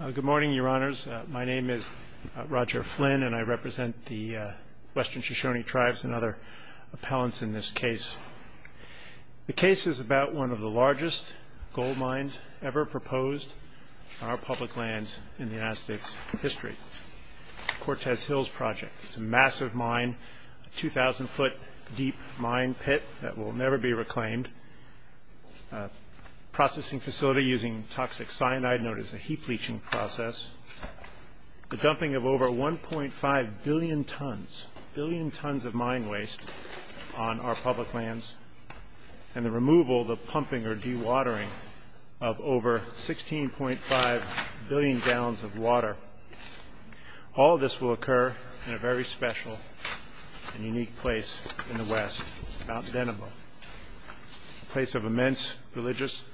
Good morning, Your Honors. My name is Roger Flynn, and I represent the Western Shoshone Tribes and other appellants in this case. The case is about one of the largest gold mines ever proposed on our public lands in the United States history, Cortez Hills Project. It's a massive mine, a 2,000-foot-deep mine pit that will never be reclaimed, a processing facility using toxic cyanide known as a heat bleaching process, the dumping of over 1.5 billion tons, a billion tons of mine waste on our public lands, and the removal, the pumping, or dewatering of over 16.5 billion gallons of water. All this will occur in a very special and unique place in the West, Mount Denebo. A place of immense religious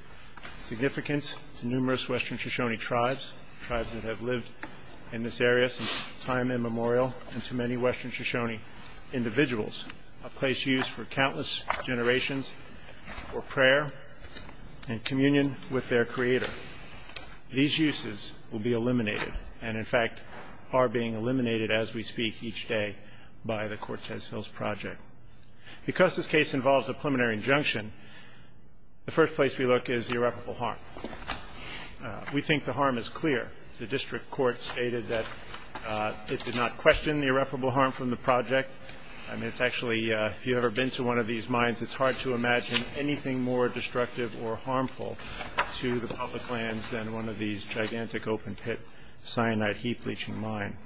significance to numerous Western Shoshone tribes, tribes that have lived in this area since time immemorial, and to many Western Shoshone individuals, a place used for countless generations for prayer and communion with their creator. These uses will be eliminated, and in fact are being eliminated as we speak each day by the Cortez Hills Project. Because this case involves a preliminary injunction, the first place we look is the irreparable harm. We think the harm is clear. The district court stated that it did not question the irreparable harm from the project. I mean, it's actually, if you've ever been to one of these mines, it's hard to imagine anything more destructive or harmful to the public lands than one of these gigantic open-pit cyanide heat-bleaching mine.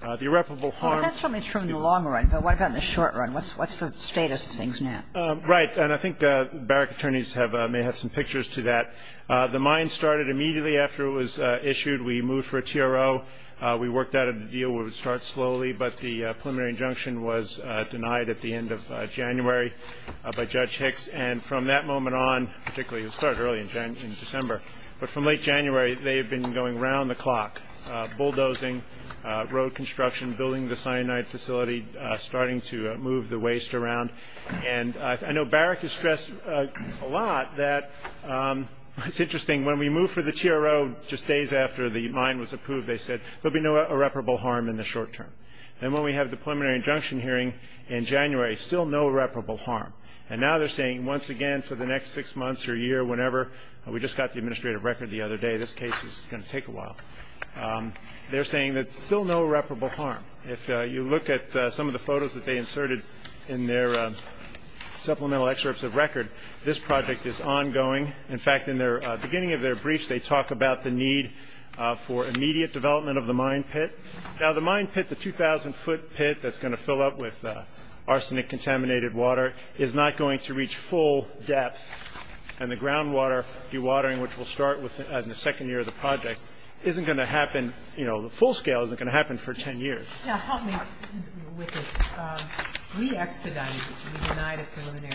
The irreparable harm of the project is clear. And I think that's what we're going to look at in the long run, but what about in the short run? What's the status of things now? Right. And I think barrack attorneys may have some pictures to that. The mine started immediately after it was issued. We moved for a TRO. We worked out a deal where it would start slowly, but the preliminary injunction was denied at the end of January by Judge Hicks. And from that moment on, particularly, it started early in December, but from late January, they had been going around the clock, bulldozing road construction, building the cyanide facility, starting to move the waste around. And I know barrack has stressed a lot that, it's interesting, when we moved for the TRO just days after the mine was approved, they said, there'll be no irreparable harm in the short term. And when we have the preliminary injunction hearing in January, still no irreparable harm. And now they're saying, once again, for the next six months or a year, whenever, we just got the administrative record the other day, this case is going to take a while. They're saying that it's still no irreparable harm. If you look at some of the photos that they inserted in their supplemental excerpts of record, this project is ongoing. In fact, in the beginning of their briefs, they talk about the need for immediate development of the mine pit. Now, the mine pit, the 2,000 foot pit that's going to fill up with arsenic contaminated water, is not going to reach full depth. And the groundwater dewatering, which will start in the second year of the project, isn't going to happen, you know, the full scale isn't going to happen for 10 years. Now, help me with this. We expedited it. We denied it preliminary.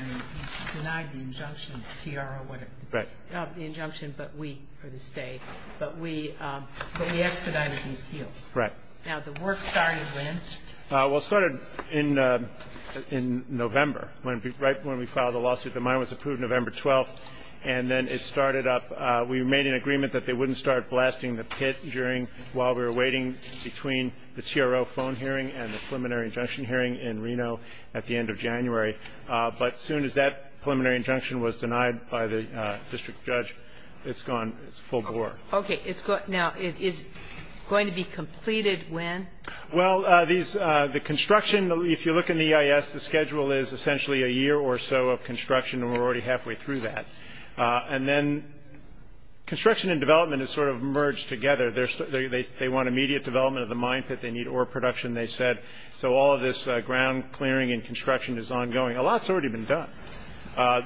We denied the injunction, TRO, whatever. The injunction, but we, for this day. But we expedited and appealed. Right. Now, the work started when? Well, it started in November, right when we filed the lawsuit. The mine was approved November 12th. And then it started up. We made an agreement that they wouldn't start blasting the pit during while we were waiting between the TRO phone hearing and the preliminary injunction hearing in Reno at the end of January. But as soon as that preliminary injunction was denied by the district judge, it's gone. It's full bore. Okay. Now, it is going to be completed when? Well, the construction, if you look in the EIS, the schedule is essentially a year or so of that. And then construction and development is sort of merged together. They want immediate development of the mine pit. They need ore production, they said. So all of this ground clearing and construction is ongoing. A lot's already been done.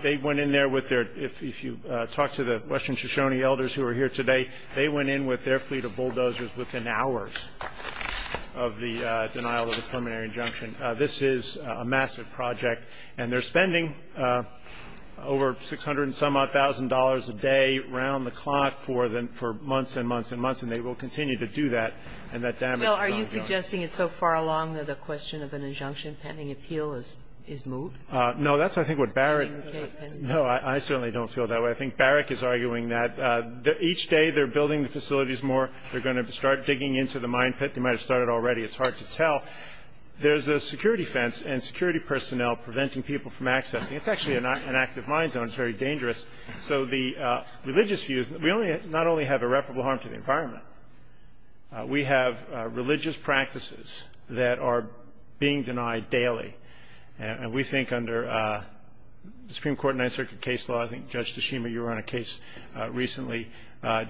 They went in there with their, if you talk to the Western Shoshone elders who are here today, they went in with their fleet of bulldozers within hours of the denial of the preliminary injunction. This is a massive project, and they're spending over 600 and some-odd thousand dollars a day around the clock for months and months and months. And they will continue to do that. And that damage is ongoing. Well, are you suggesting it's so far along that the question of an injunction pending appeal is moved? No. That's, I think, what Barrett no, I certainly don't feel that way. I think Barrett is arguing that each day they're building the facilities more. They're going to start digging into the mine pit. They might have started already. It's hard to tell. There's a security fence and security personnel preventing people from accessing. It's actually an active mine zone. It's very dangerous. So the religious views, we only, not only have irreparable harm to the environment, we have religious practices that are being denied daily. And we think under the Supreme Court and Ninth Circuit case law, I think, Judge Tashima, you were on a case recently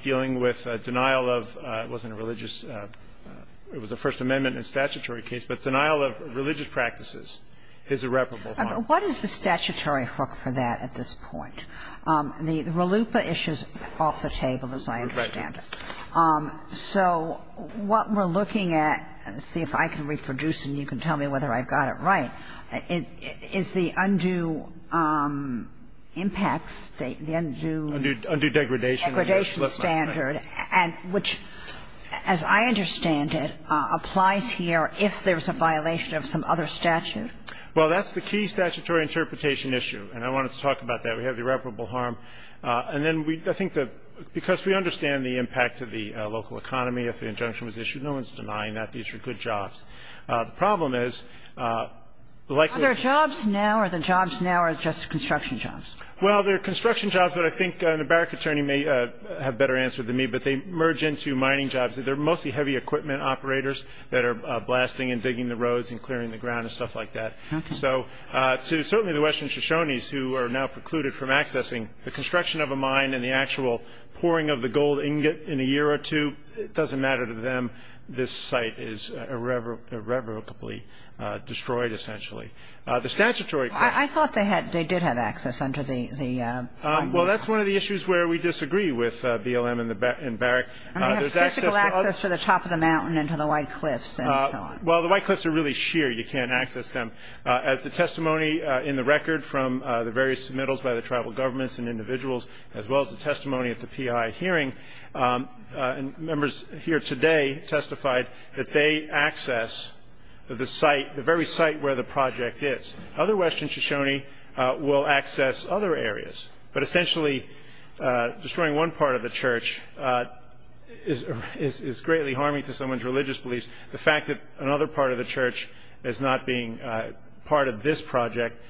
dealing with denial of, it wasn't a religious, it was a First Amendment and statutory case, but denial of religious practices is irreparable harm. What is the statutory hook for that at this point? The RLUIPA issue is off the table, as I understand it. Right. So what we're looking at, see if I can reproduce and you can tell me whether I've got it right, is the undue impacts, the undue degradation standard, which, as I understand it, applies here if there's a violation of some other statute. Well, that's the key statutory interpretation issue, and I wanted to talk about that. We have irreparable harm. And then we, I think that because we understand the impact to the local economy if the injunction was issued, no one's denying that. These are good jobs. The problem is, the likelihood of the jobs now are just construction jobs. Well, they're construction jobs, but I think an embarrassed attorney may have a better answer than me, but they merge into mining jobs. They're mostly heavy equipment operators that are blasting and digging the roads and clearing the ground and stuff like that. Okay. So to certainly the Western Shoshones who are now precluded from accessing the construction of a mine and the actual pouring of the gold ingot in a year or two, it doesn't matter to them. This site is irrevocably destroyed, essentially. The statutory question I thought they did have access under the Well, that's one of the issues where we disagree with BLM and Barrick. I mean, they have physical access to the top of the mountain and to the White Cliffs and so on. Well, the White Cliffs are really sheer. You can't access them. As the testimony in the record from the various submittals by the tribal governments and individuals, as well as the testimony at the P.I. hearing, members here today testified that they access the site, the very site where the project is. Other Western Shoshone will access other areas. But essentially, destroying one part of the church is greatly harming to someone's religious beliefs. The fact that another part of the church is not being part of this project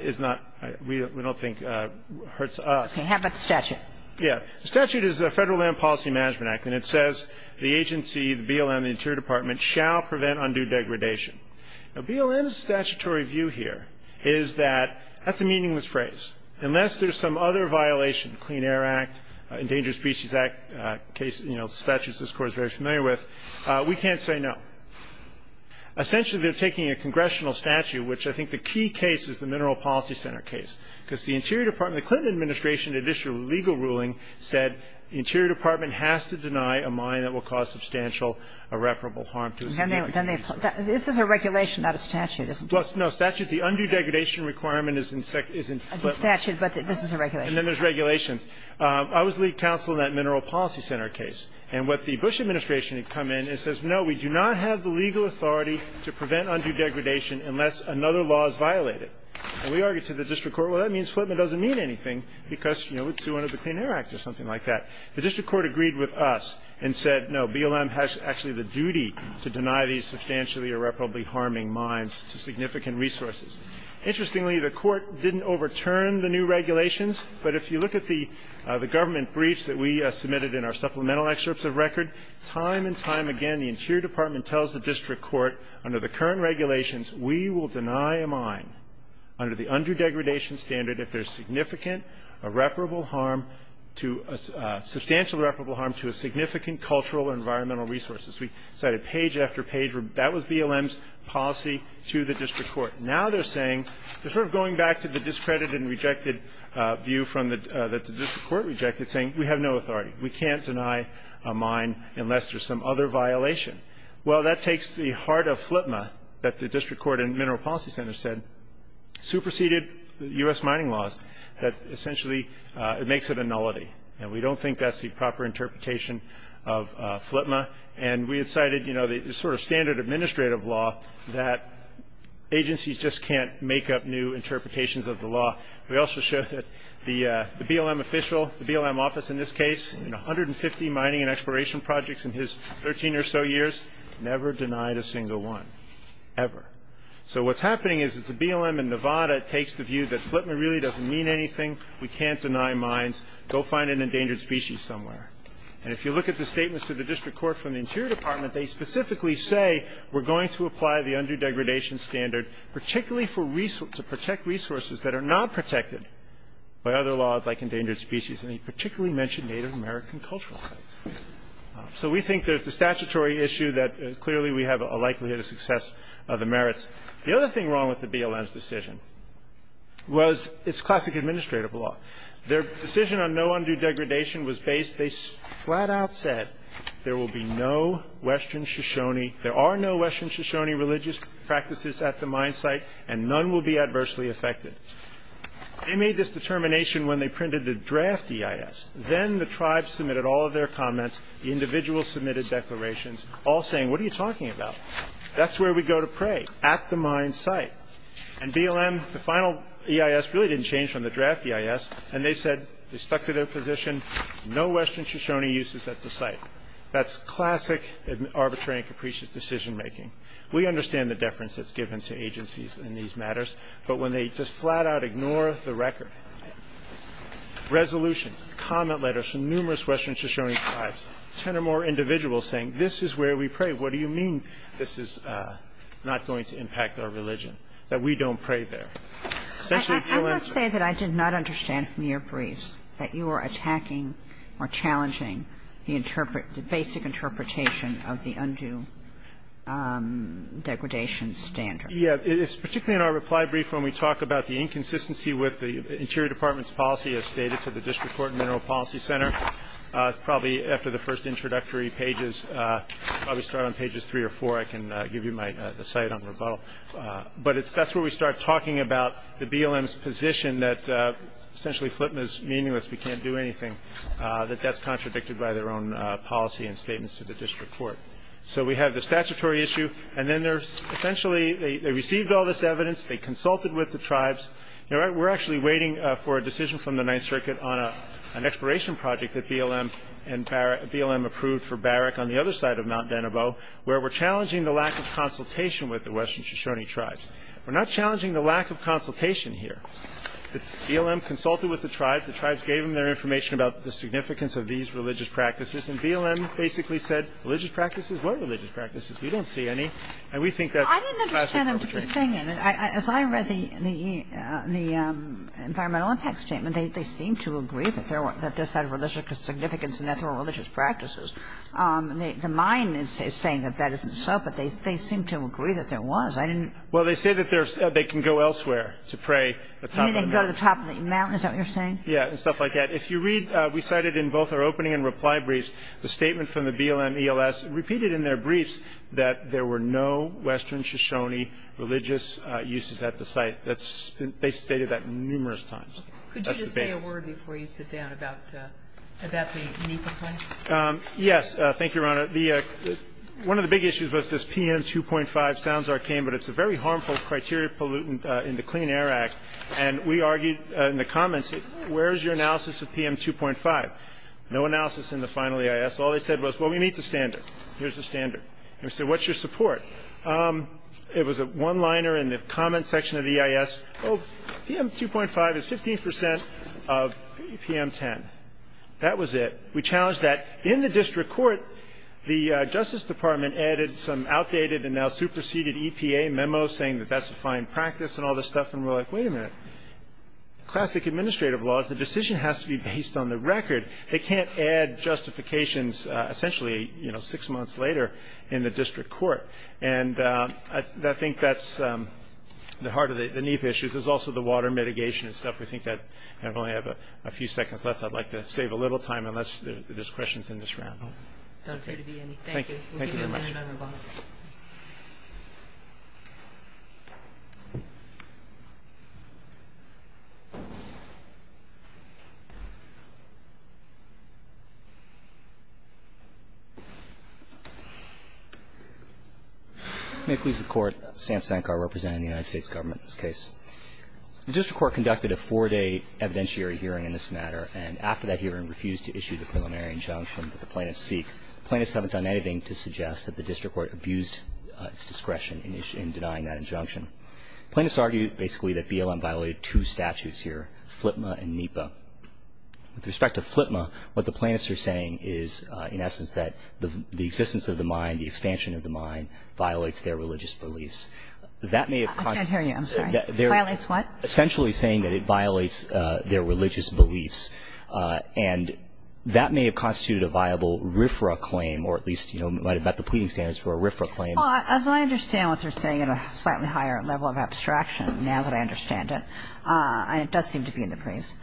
is not, we don't think, hurts us. Okay. How about the statute? Yeah. The statute is the Federal Land Policy Management Act, and it says the agency, the BLM, the Interior Department, shall prevent undue degradation. Now, BLM's statutory view here is that that's a meaningless phrase. Unless there's some other violation, Clean Air Act, Endangered Species Act, case, you know, statutes this Court is very familiar with, we can't say no. Essentially, they're taking a congressional statute, which I think the key case is the Mineral Policy Center case, because the Interior Department, the Clinton administration had issued a legal ruling that said the Interior Department has to deny a mine that will cause substantial irreparable harm to a significant piece of land. This is a regulation, not a statute, isn't it? Well, no. Statute, the undue degradation requirement is in Flipman. It's a statute, but this is a regulation. And then there's regulations. I was lead counsel in that Mineral Policy Center case. And what the Bush administration had come in and says, no, we do not have the legal authority to prevent undue degradation unless another law is violated. And we argued to the district court, well, that means Flipman doesn't mean anything because, you know, let's do one of the Clean Air Act or something like that. The district court agreed with us and said, no, BLM has actually the duty to deny these substantially irreparably harming mines to significant resources. Interestingly, the court didn't overturn the new regulations, but if you look at the government briefs that we submitted in our supplemental excerpts of record, time and time again the Interior Department tells the district court under the current regulations we will deny a mine under the undue degradation standard if there's substantial irreparable harm to a significant cultural and environmental resources. We cited page after page. That was BLM's policy to the district court. Now they're saying, they're sort of going back to the discredited and rejected view that the district court rejected, saying we have no authority. We can't deny a mine unless there's some other violation. Well, that takes the heart of Flipman that the district court and Mineral Policy Center said superseded U.S. mining laws, that essentially it makes it a nullity. And we don't think that's the proper interpretation of Flipman. And we had cited, you know, the sort of standard administrative law that agencies just can't make up new interpretations of the law. We also showed that the BLM official, the BLM office in this case, in 150 mining and exploration projects in his 13 or so years, never denied a single one, ever. So what's happening is the BLM in Nevada takes the view that Flipman really doesn't mean anything. We can't deny mines. Go find an endangered species somewhere. And if you look at the statements of the district court from the Interior Department, they specifically say we're going to apply the undue degradation standard, particularly for resource, to protect resources that are not protected by other laws like endangered species, and they particularly mention Native American cultural sites. So we think there's the statutory issue that clearly we have a likelihood of success of the merits. The other thing wrong with the BLM's decision was it's classic administrative law. Their decision on no undue degradation was based, they flat out said, there will be no Western Shoshone, there are no Western Shoshone religious practices at the mine site, and none will be adversely affected. They made this determination when they printed the draft EIS. Then the tribes submitted all of their comments, the individuals submitted declarations, all saying, what are you talking about? That's where we go to pray, at the mine site. And BLM, the final EIS really didn't change from the draft EIS, and they said, they stuck to their position, no Western Shoshone uses at the site. That's classic arbitrary and capricious decision making. We understand the deference that's given to agencies in these matters, but when they just flat out ignore the record, resolutions, comment letters from numerous Western Shoshone tribes, 10 or more individuals saying, this is where we pray, what do you mean this is not going to impact our religion? That we don't pray there. Essentially, BLM's- I must say that I did not understand from your briefs that you are attacking or challenging the basic interpretation of the undue degradation standard. Yeah, it's particularly in our reply brief when we talk about the inconsistency with the Interior Department's policy as stated to the District Court and Mineral Policy Center. Probably after the first introductory pages, probably start on pages three or four, I can give you my, the site on rebuttal. But it's, that's where we start talking about the BLM's position that essentially Flipna's meaningless, we can't do anything. That that's contradicted by their own policy and statements to the District Court. So we have the statutory issue, and then there's essentially, they received all this evidence, they consulted with the tribes. You know, we're actually waiting for a decision from the Ninth Circuit on an exploration project that BLM and Barrett, BLM approved for Barrett on the other side of Mount Danabo, where we're challenging the lack of consultation with the Western Shoshone tribes. We're not challenging the lack of consultation here. BLM consulted with the tribes. The tribes gave them their information about the significance of these religious practices. And BLM basically said, religious practices? What religious practices? We don't see any. And we think that's- I didn't understand what you're saying. As I read the Environmental Impact Statement, they seem to agree that this had religious significance and that there were religious practices. The mine is saying that that isn't so, but they seem to agree that there was. I didn't- Well, they say that they can go elsewhere to pray at the top of the mountain. You mean they can go to the top of the mountain? Is that what you're saying? Yeah, and stuff like that. If you read, we cited in both our opening and reply briefs, the statement from the BLM-ELS repeated in their briefs that there were no Western Shoshone religious uses at the site. That's been they stated that numerous times. Could you just say a word before you sit down about the NEPA claim? Yes. Thank you, Your Honor. One of the big issues was this PM 2.5. Sounds arcane, but it's a very harmful criteria pollutant in the Clean Air Act. And we argued in the comments, where is your analysis of PM 2.5? No analysis in the final EIS. All they said was, well, we meet the standard. Here's the standard. And we said, what's your support? It was a one-liner in the comments section of the EIS. Oh, PM 2.5 is 15% of PM 10. That was it. We challenged that. In the district court, the Justice Department added some outdated and now superseded EPA memo saying that that's a fine practice and all this stuff. And we're like, wait a minute. Classic administrative laws, the decision has to be based on the record. They can't add justifications essentially six months later in the district court. And I think that's the heart of the NIEP issues. There's also the water mitigation and stuff. We think that, I only have a few seconds left. I'd like to save a little time unless there's questions in this round. Thank you. Thank you very much. May it please the court. Sam Sankar representing the United States government in this case. The district court conducted a four-day evidentiary hearing in this matter. And after that hearing, refused to issue the preliminary injunction that the plaintiffs seek. Plaintiffs haven't done anything to suggest that the district court abused its discretion in denying that injunction. Plaintiffs argue basically that BLM violated two statutes here, FLTMA and NEPA. With respect to FLTMA, what the plaintiffs are saying is, in essence, that the existence of the mind, the expansion of the mind, violates their religious beliefs. That may have constituted. I can't hear you. I'm sorry. Violates what? Essentially saying that it violates their religious beliefs. And that may have constituted a viable RFRA claim, or at least, you know, might have met the pleading standards for a RFRA claim. Well, as I understand what they're saying in a slightly higher level of abstraction now that I understand it, and it does seem to be in the briefs,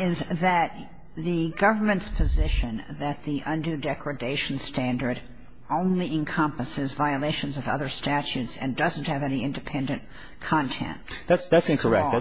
is that the government's position that the undue degradation standard only encompasses violations of other statutes and doesn't have any independent content is wrong. That's incorrect.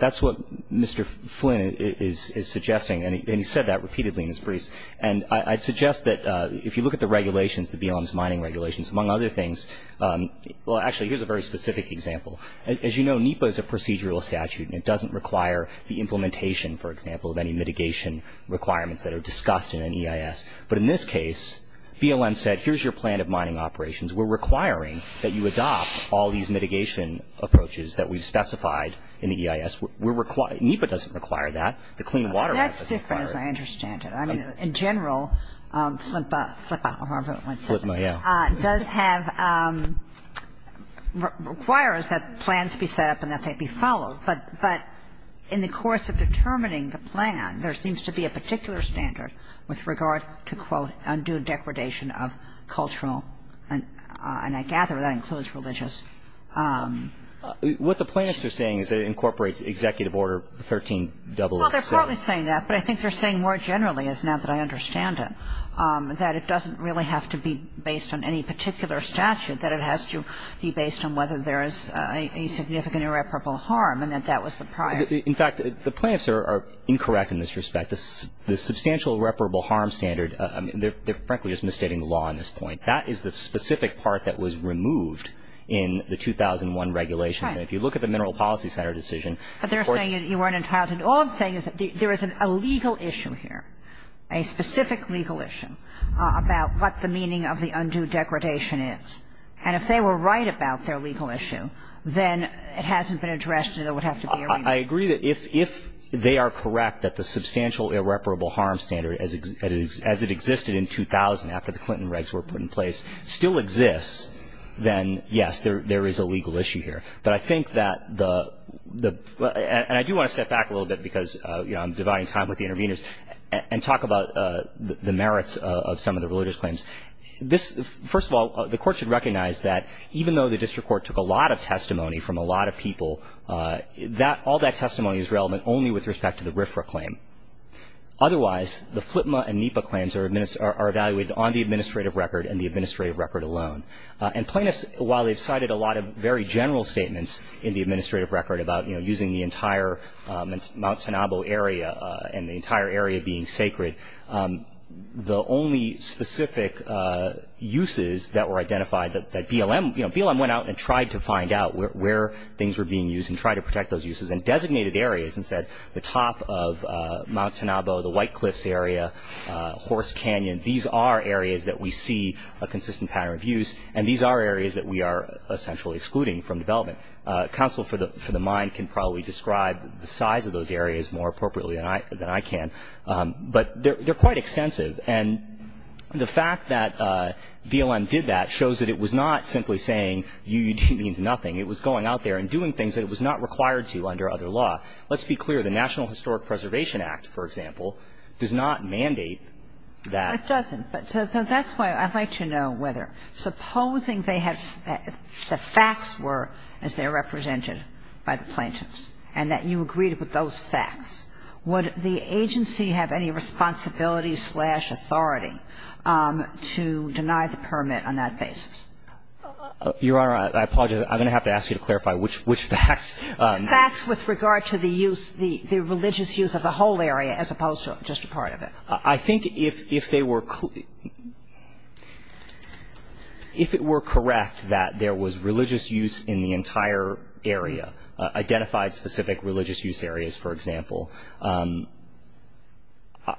That's what Mr. Flynn is suggesting, and he said that repeatedly in his briefs. And I'd suggest that if you look at the regulations, the BLM's mining regulations, among other things, well, actually, here's a very specific example. As you know, NEPA is a procedural statute, and it doesn't require the implementation, for example, of any mitigation requirements that are discussed in an EIS. But in this case, BLM said, here's your plan of mining operations. We're requiring that you adopt all these mitigation approaches that we've specified in the EIS. We're required ñ NEPA doesn't require that. The Clean Water Act doesn't require it. That's different, as I understand it. I mean, in general, FLIPA, FLIPA, however it's said, does have ñ requires that the plans be set up and that they be followed. But in the course of determining the plan, there seems to be a particular standard with regard to, quote, undue degradation of cultural, and I gather that includes religious ñ What the plaintiffs are saying is that it incorporates Executive Order 13-XXC. Well, they're partly saying that, but I think they're saying more generally, as now that I understand it, that it doesn't really have to be based on any particular statute, that it has to be based on whether there is a significant irreparable harm, and that that was the prior ñ In fact, the plaintiffs are incorrect in this respect. The substantial irreparable harm standard ñ they're frankly just misstating the law on this point. That is the specific part that was removed in the 2001 regulations. And if you look at the Mineral Policy Center decision ñ But they're saying you weren't entitled to ñ all I'm saying is that there is a legal issue here, a specific legal issue, about what the meaning of the undue degradation is. And if they were right about their legal issue, then it hasn't been addressed and there would have to be a renewal. I agree that if they are correct that the substantial irreparable harm standard as it existed in 2000 after the Clinton regs were put in place still exists, then, yes, there is a legal issue here. But I think that the ñ and I do want to step back a little bit because, you know, I'm dividing time with the interveners and talk about the merits of some of the religious claims. This ñ first of all, the Court should recognize that even though the district court took a lot of testimony from a lot of people, that ñ all that testimony is relevant only with respect to the RFRA claim. Otherwise, the FLTMA and NEPA claims are ñ are evaluated on the administrative record and the administrative record alone. And plaintiffs, while they've cited a lot of very general statements in the administrative record about, you know, using the entire Mount Tanabo area and the entire area being sacred, the only specific uses that were identified that BLM ñ you know, BLM went out and tried to find out where things were being used and tried to protect those uses. And designated areas, instead, the top of Mount Tanabo, the White Cliffs area, Horse Canyon, these are areas that we see a consistent pattern of use. And these are areas that we are essentially excluding from development. Counsel for the ñ for the mine can probably describe the size of those areas more appropriately than I ñ than I can. But they're ñ they're quite extensive. And the fact that BLM did that shows that it was not simply saying UUD means nothing. It was going out there and doing things that it was not required to under other law. Let's be clear. The National Historic Preservation Act, for example, does not mandate that. It doesn't. So that's why I'd like to know whether, supposing they had ñ the facts were as they are represented by the plaintiffs, and that you agreed with those facts, would the agency have any responsibility slash authority to deny the permit on that basis? Your Honor, I apologize. I'm going to have to ask you to clarify which ñ which facts. Facts with regard to the use ñ the religious use of the whole area as opposed to just a part of it. I think if they were ñ if it were correct that there was religious use in the entire area, identified specific religious use areas, for example,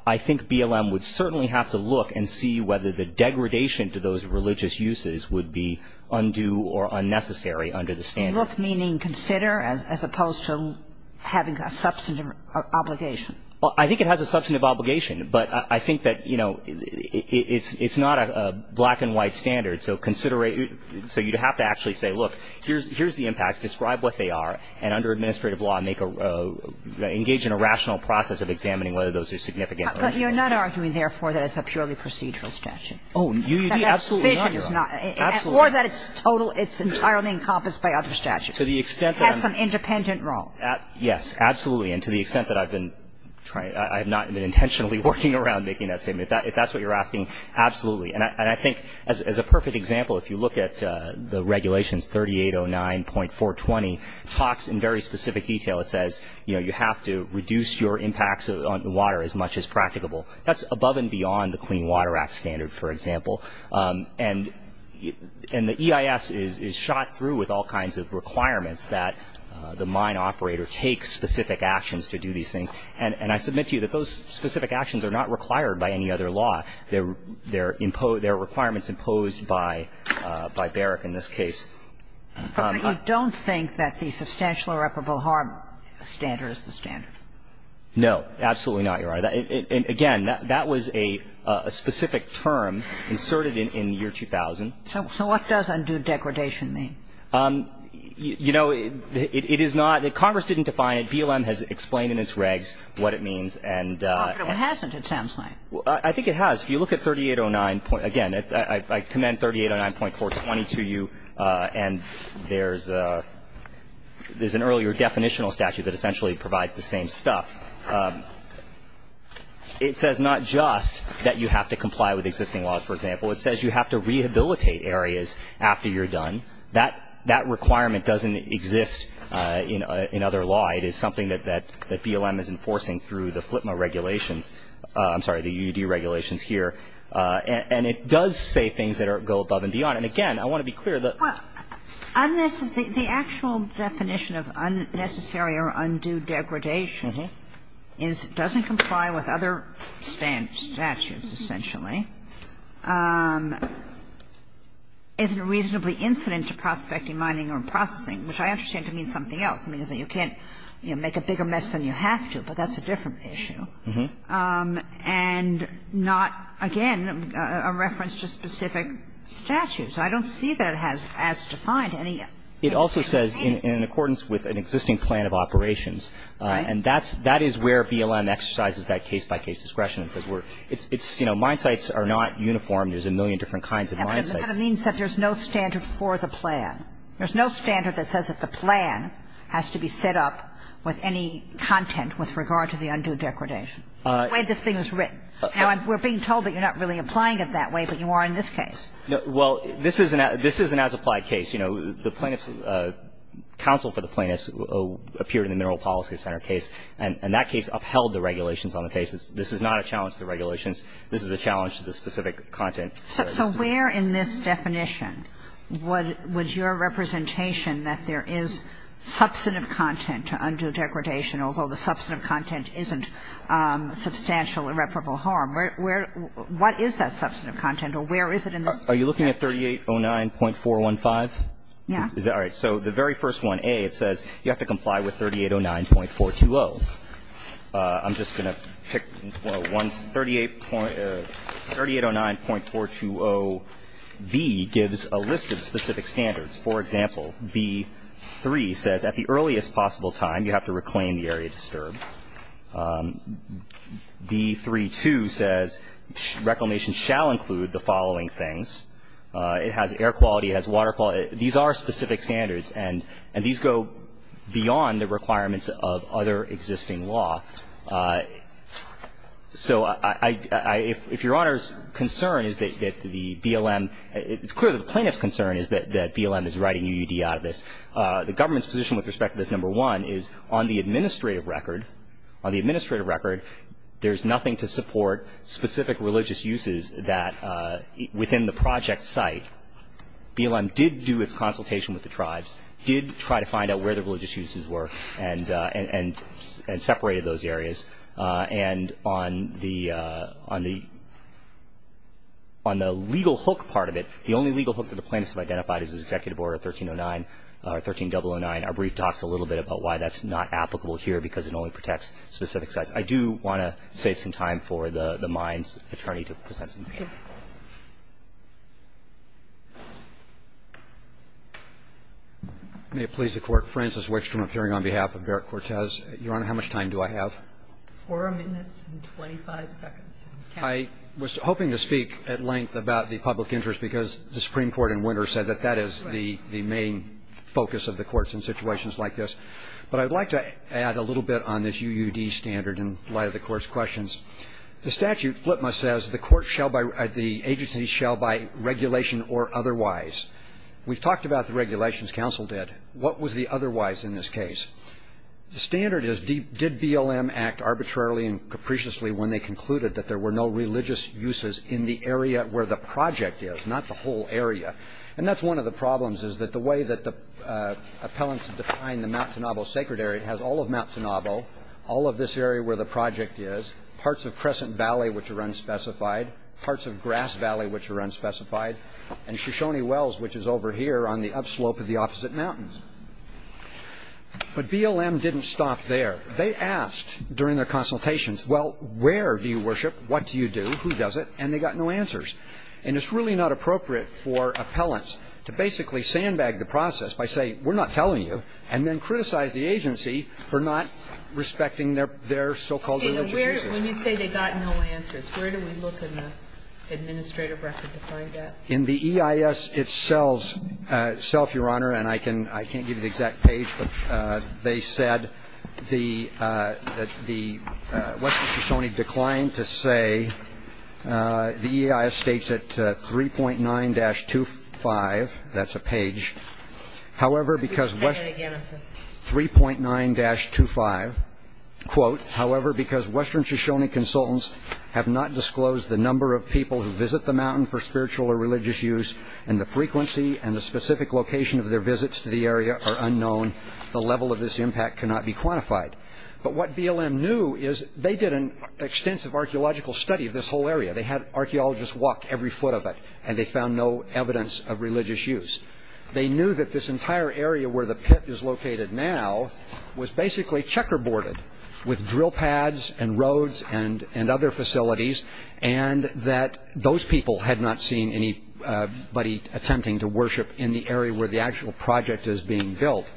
I think BLM would certainly have to look and see whether the degradation to those religious uses would be undue or unnecessary under the standard. Look, meaning consider, as opposed to having a substantive obligation? Well, I think it has a substantive obligation. But I think that, you know, it's ñ it's not a black-and-white standard. So considerate ñ so you'd have to actually say, look, here's ñ here's the impact. Describe what they are. And under administrative law, make a ñ engage in a rational process of examining whether those are significant or insignificant. But you're not arguing, therefore, that it's a purely procedural statute? Oh, absolutely not, Your Honor. Or that it's total ñ it's entirely encompassed by other statutes? To the extent that I'm ñ It has some independent role. Yes, absolutely. And to the extent that I've been trying ñ I have not been intentionally working around making that statement. If that's what you're asking, absolutely. And I think, as a perfect example, if you look at the regulations, 3809.420, talks in very specific detail. It says, you know, you have to reduce your impacts on water as much as practicable. That's above and beyond the Clean Water Act standard, for example. And the EIS is shot through with all kinds of requirements that the mine operator take specific actions to do these things. And I submit to you that those specific actions are not required by any other law. They're ñ they're ñ they're requirements imposed by Barrick in this case. But you don't think that the substantial irreparable harm standard is the standard? No, absolutely not, Your Honor. Again, that was a specific term inserted in year 2000. So what does undue degradation mean? You know, it is not ñ Congress didn't define it. BLM has explained in its regs what it means. And ñ But it hasn't, it sounds like. I think it has. If you look at 3809 ñ again, I commend 3809.420 to you. And there's ñ there's an earlier definitional statute that essentially provides the same stuff. It says not just that you have to comply with existing laws, for example. It says you have to rehabilitate areas after you're done. That ñ that requirement doesn't exist in other law. It is something that BLM is enforcing through the FLTMA regulations ñ I'm sorry, the UD regulations here. And it does say things that are ñ go above and beyond. And again, I want to be clear that ñ Well, the actual definition of unnecessary or undue degradation is it doesn't comply with other statutes, essentially, isn't reasonably incident to prospecting, mining, or processing, which I understand to mean something else. It means that you can't, you know, make a bigger mess than you have to. But that's a different issue. And not, again, a reference to specific statutes. I don't see that as defined any ñ It also says in accordance with an existing plan of operations. And that's ñ that is where BLM exercises that case-by-case discretion. It says we're ñ it's ñ you know, mine sites are not uniform. There's a million different kinds of mine sites. But it means that there's no standard for the plan. There's no standard that says that the plan has to be set up with any content with regard to the undue degradation, the way this thing is written. Now, we're being told that you're not really applying it that way, but you are in this case. Well, this is an ñ this is an as-applied case. You know, the plaintiffs ñ counsel for the plaintiffs appeared in the Mineral Policy Center case, and that case upheld the regulations on the case. This is not a challenge to the regulations. This is a challenge to the specific content. So where in this definition would your representation that there is substantive content to undue degradation, although the substantive content isn't substantial irreparable harm, where ñ what is that substantive content, or where is it in this case? Are you looking at 3809.415? Yeah. All right. So the very first one, A, it says you have to comply with 3809.420. I'm just going to pick one ñ 3809.420B gives a list of specific standards. For example, B3 says at the earliest possible time you have to reclaim the area disturbed. B3-2 says reclamation shall include the following things. It has air quality. It has water quality. These are specific standards, and these go beyond the requirements of other existing law. So I ñ if Your Honor's concern is that the BLM ñ it's clear that the plaintiff's concern is that BLM is writing UUD out of this. The government's position with respect to this, number one, is on the administrative record. On the administrative record, there's nothing to support specific religious uses that ñ within the project site, BLM did do its consultation with the tribes, did try to find out where the religious uses were, and ñ and separated those areas. And on the ñ on the legal hook part of it, the only legal hook that the plaintiffs have identified is this Executive Order 1309 ñ or 13009. Our brief talks a little bit about why that's not applicable here, because it only protects specific sites. I do want to save some time for the ñ the Mines attorney to present some questions. May it please the Court, Francis Wickstrom appearing on behalf of Derek Cortez. Your Honor, how much time do I have? Four minutes and 25 seconds. I was hoping to speak at length about the public interest, because the Supreme Court is not the main focus of the courts in situations like this, but I'd like to add a little bit on this UUD standard in light of the Court's questions. The statute, FLTMA, says the court shall by ñ the agency shall by regulation or otherwise. We've talked about the regulations counsel did. What was the otherwise in this case? The standard is, did BLM act arbitrarily and capriciously when they concluded that there were no religious uses in the area where the project is, not the whole area? And that's one of the problems, is that the way that the appellants define the Mount Sinabo sacred area, it has all of Mount Sinabo, all of this area where the project is, parts of Crescent Valley which are unspecified, parts of Grass Valley which are unspecified, and Shoshone Wells, which is over here on the upslope of the opposite mountains. But BLM didn't stop there. They asked during their consultations, well, where do you worship, what do you do, who does it, and they got no answers. And it's really not appropriate for appellants to basically sandbag the process by saying we're not telling you, and then criticize the agency for not respecting their so-called religious uses. When you say they got no answers, where do we look in the administrative record to find that? In the EIS itself, Your Honor, and I can't give you the exact page, but they said that the Western Shoshone declined to say, the EIS states at 3.9-25, that's a page. However, because 3.9-25, quote, however, because Western Shoshone consultants have not disclosed the number of people who visit the mountain for spiritual or religious use, and the frequency and the specific location of their visits to the mountain can't be quantified. But what BLM knew is they did an extensive archaeological study of this whole area. They had archaeologists walk every foot of it, and they found no evidence of religious use. They knew that this entire area where the pit is located now was basically checkerboarded with drill pads and roads and other facilities, and that those people had not seen anybody attempting to worship in the area where the actual project is being built.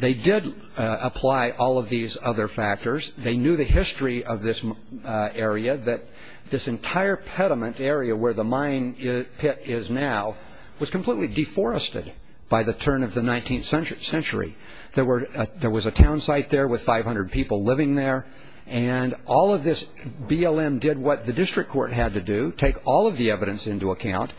They did apply all of these other factors. They knew the history of this area, that this entire pediment area where the mine pit is now was completely deforested by the turn of the 19th century. There was a town site there with 500 people living there, and all of this, BLM did what the district court had to do, take all of the evidence into account.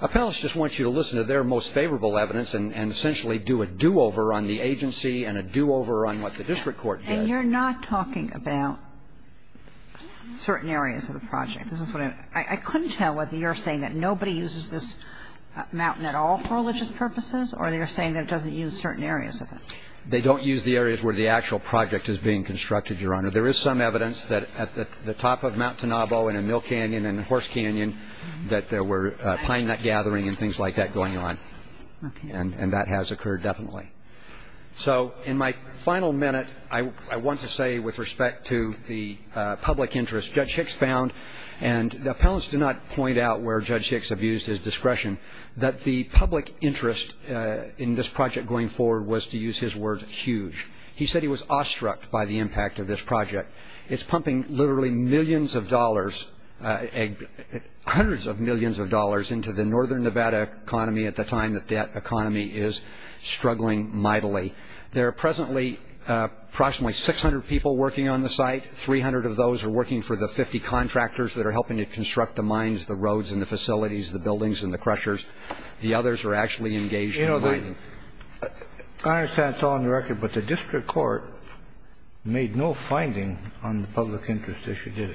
Appellants just want you to listen to their most favorable evidence and essentially do a do-over on the agency and a do-over on what the district court did. And you're not talking about certain areas of the project. I couldn't tell whether you're saying that nobody uses this mountain at all for religious purposes or you're saying that it doesn't use certain areas of it. They don't use the areas where the actual project is being constructed, Your Honor. There is some evidence that at the top of Mount Tenobo in a mill canyon and horse canyon that there were pine nut gathering and things like that going on. And that has occurred definitely. So in my final minute, I want to say with respect to the public interest, Judge Hicks found, and the appellants did not point out where Judge Hicks abused his discretion, that the public interest in this project going forward was, to use his words, huge. He said he was awestruck by the impact of this project. It's pumping literally millions of dollars, hundreds of millions of dollars into the northern Nevada economy at the time that that economy is struggling mightily. There are presently approximately 600 people working on the site. 300 of those are working for the 50 contractors that are helping to construct the mines, the roads, and the facilities, the buildings, and the crushers. The others are actually engaged in mining. I understand it's all on the record, but the district court made no finding on the public interest issue, did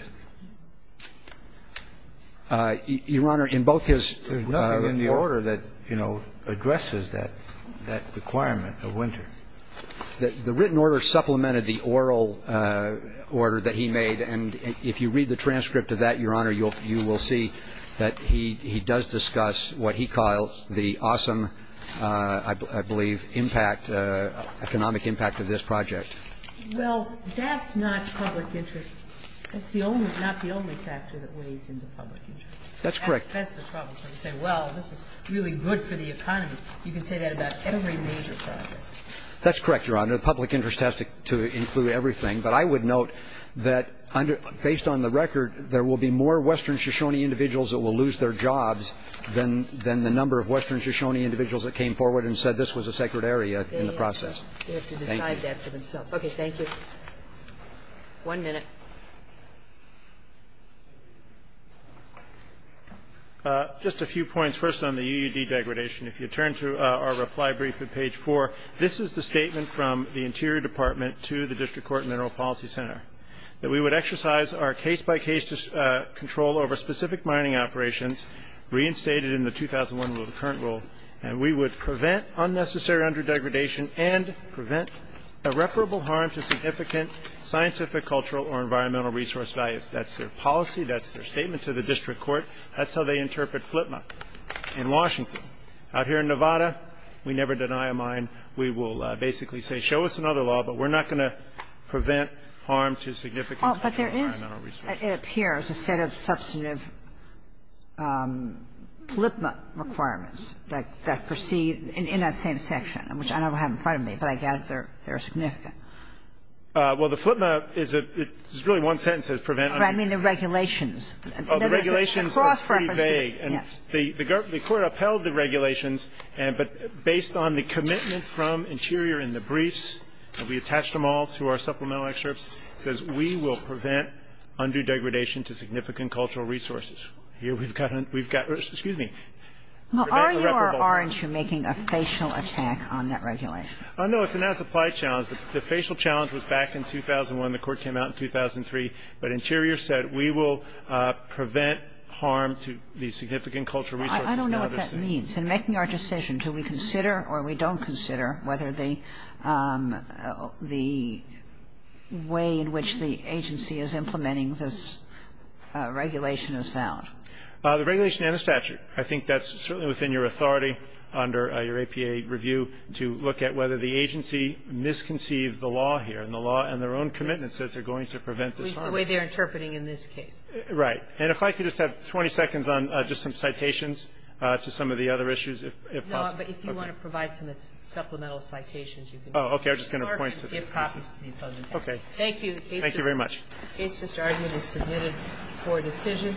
it? Your Honor, in both his order that, you know, addresses that requirement of winter. The written order supplemented the oral order that he made, and if you read the transcript of that, Your Honor, you will see that he does discuss what he calls the awesome, I believe, impact, economic impact of this project. Well, that's not public interest. It's not the only factor that weighs into public interest. That's correct. That's the problem, so to say, well, this is really good for the economy. You can say that about every major project. That's correct, Your Honor. The public interest has to include everything. But I would note that, based on the record, there will be more western Shoshone individuals that will lose their jobs than the number of western Shoshone individuals that came forward and said this was a sacred area in the process. They have to decide that for themselves. Okay, thank you. One minute. Just a few points. First on the UUD degradation, if you turn to our reply brief at page four, this is the statement from the Interior Department to the District Court Mineral Policy Center, that we would exercise our case-by-case control over specific mining operations reinstated in the 2001 rule, the current rule, and we would prevent unnecessary underdegradation and prevent irreparable harm to significant scientific, cultural, or environmental resource values. That's their policy. That's their statement to the District Court. That's how they interpret FLIPMA in Washington. Out here in Nevada, we never deny a mine. We will basically say, show us another law, but we're not going to prevent harm to significant cultural and environmental resources. But there is, it appears, a set of substantive FLIPMA requirements that proceed in that same section, which I don't have in front of me, but I gather they're significant. Well, the FLIPMA is a really one sentence that says prevent undue. I mean the regulations. The regulations are pretty vague. The court upheld the regulations, but based on the commitment from Interior in the briefs, and we attached them all to our supplemental excerpts, says we will prevent undue degradation to significant cultural resources. Here we've got, excuse me, prevent irreparable harm. Well, are you or aren't you making a facial attack on that regulation? Oh, no, it's an as-applied challenge. The facial challenge was back in 2001. The court came out in 2003. But Interior said we will prevent harm to these significant cultural resources. I don't know what that means. In making our decision, do we consider or we don't consider whether the way in which the agency is implementing this regulation is valid? The regulation and the statute. I think that's certainly within your authority under your APA review to look at whether the agency misconceived the law here, and the law and their own commitments that they're going to prevent this harm. At least the way they're interpreting in this case. Right. And if I could just have 20 seconds on just some citations to some of the other issues, if possible. No, but if you want to provide some supplemental citations, you can. Oh, okay. I'm just going to point to the pieces. It's more than if happens to be a public matter. Okay. Thank you. Thank you very much. The case just argued is submitted for decision.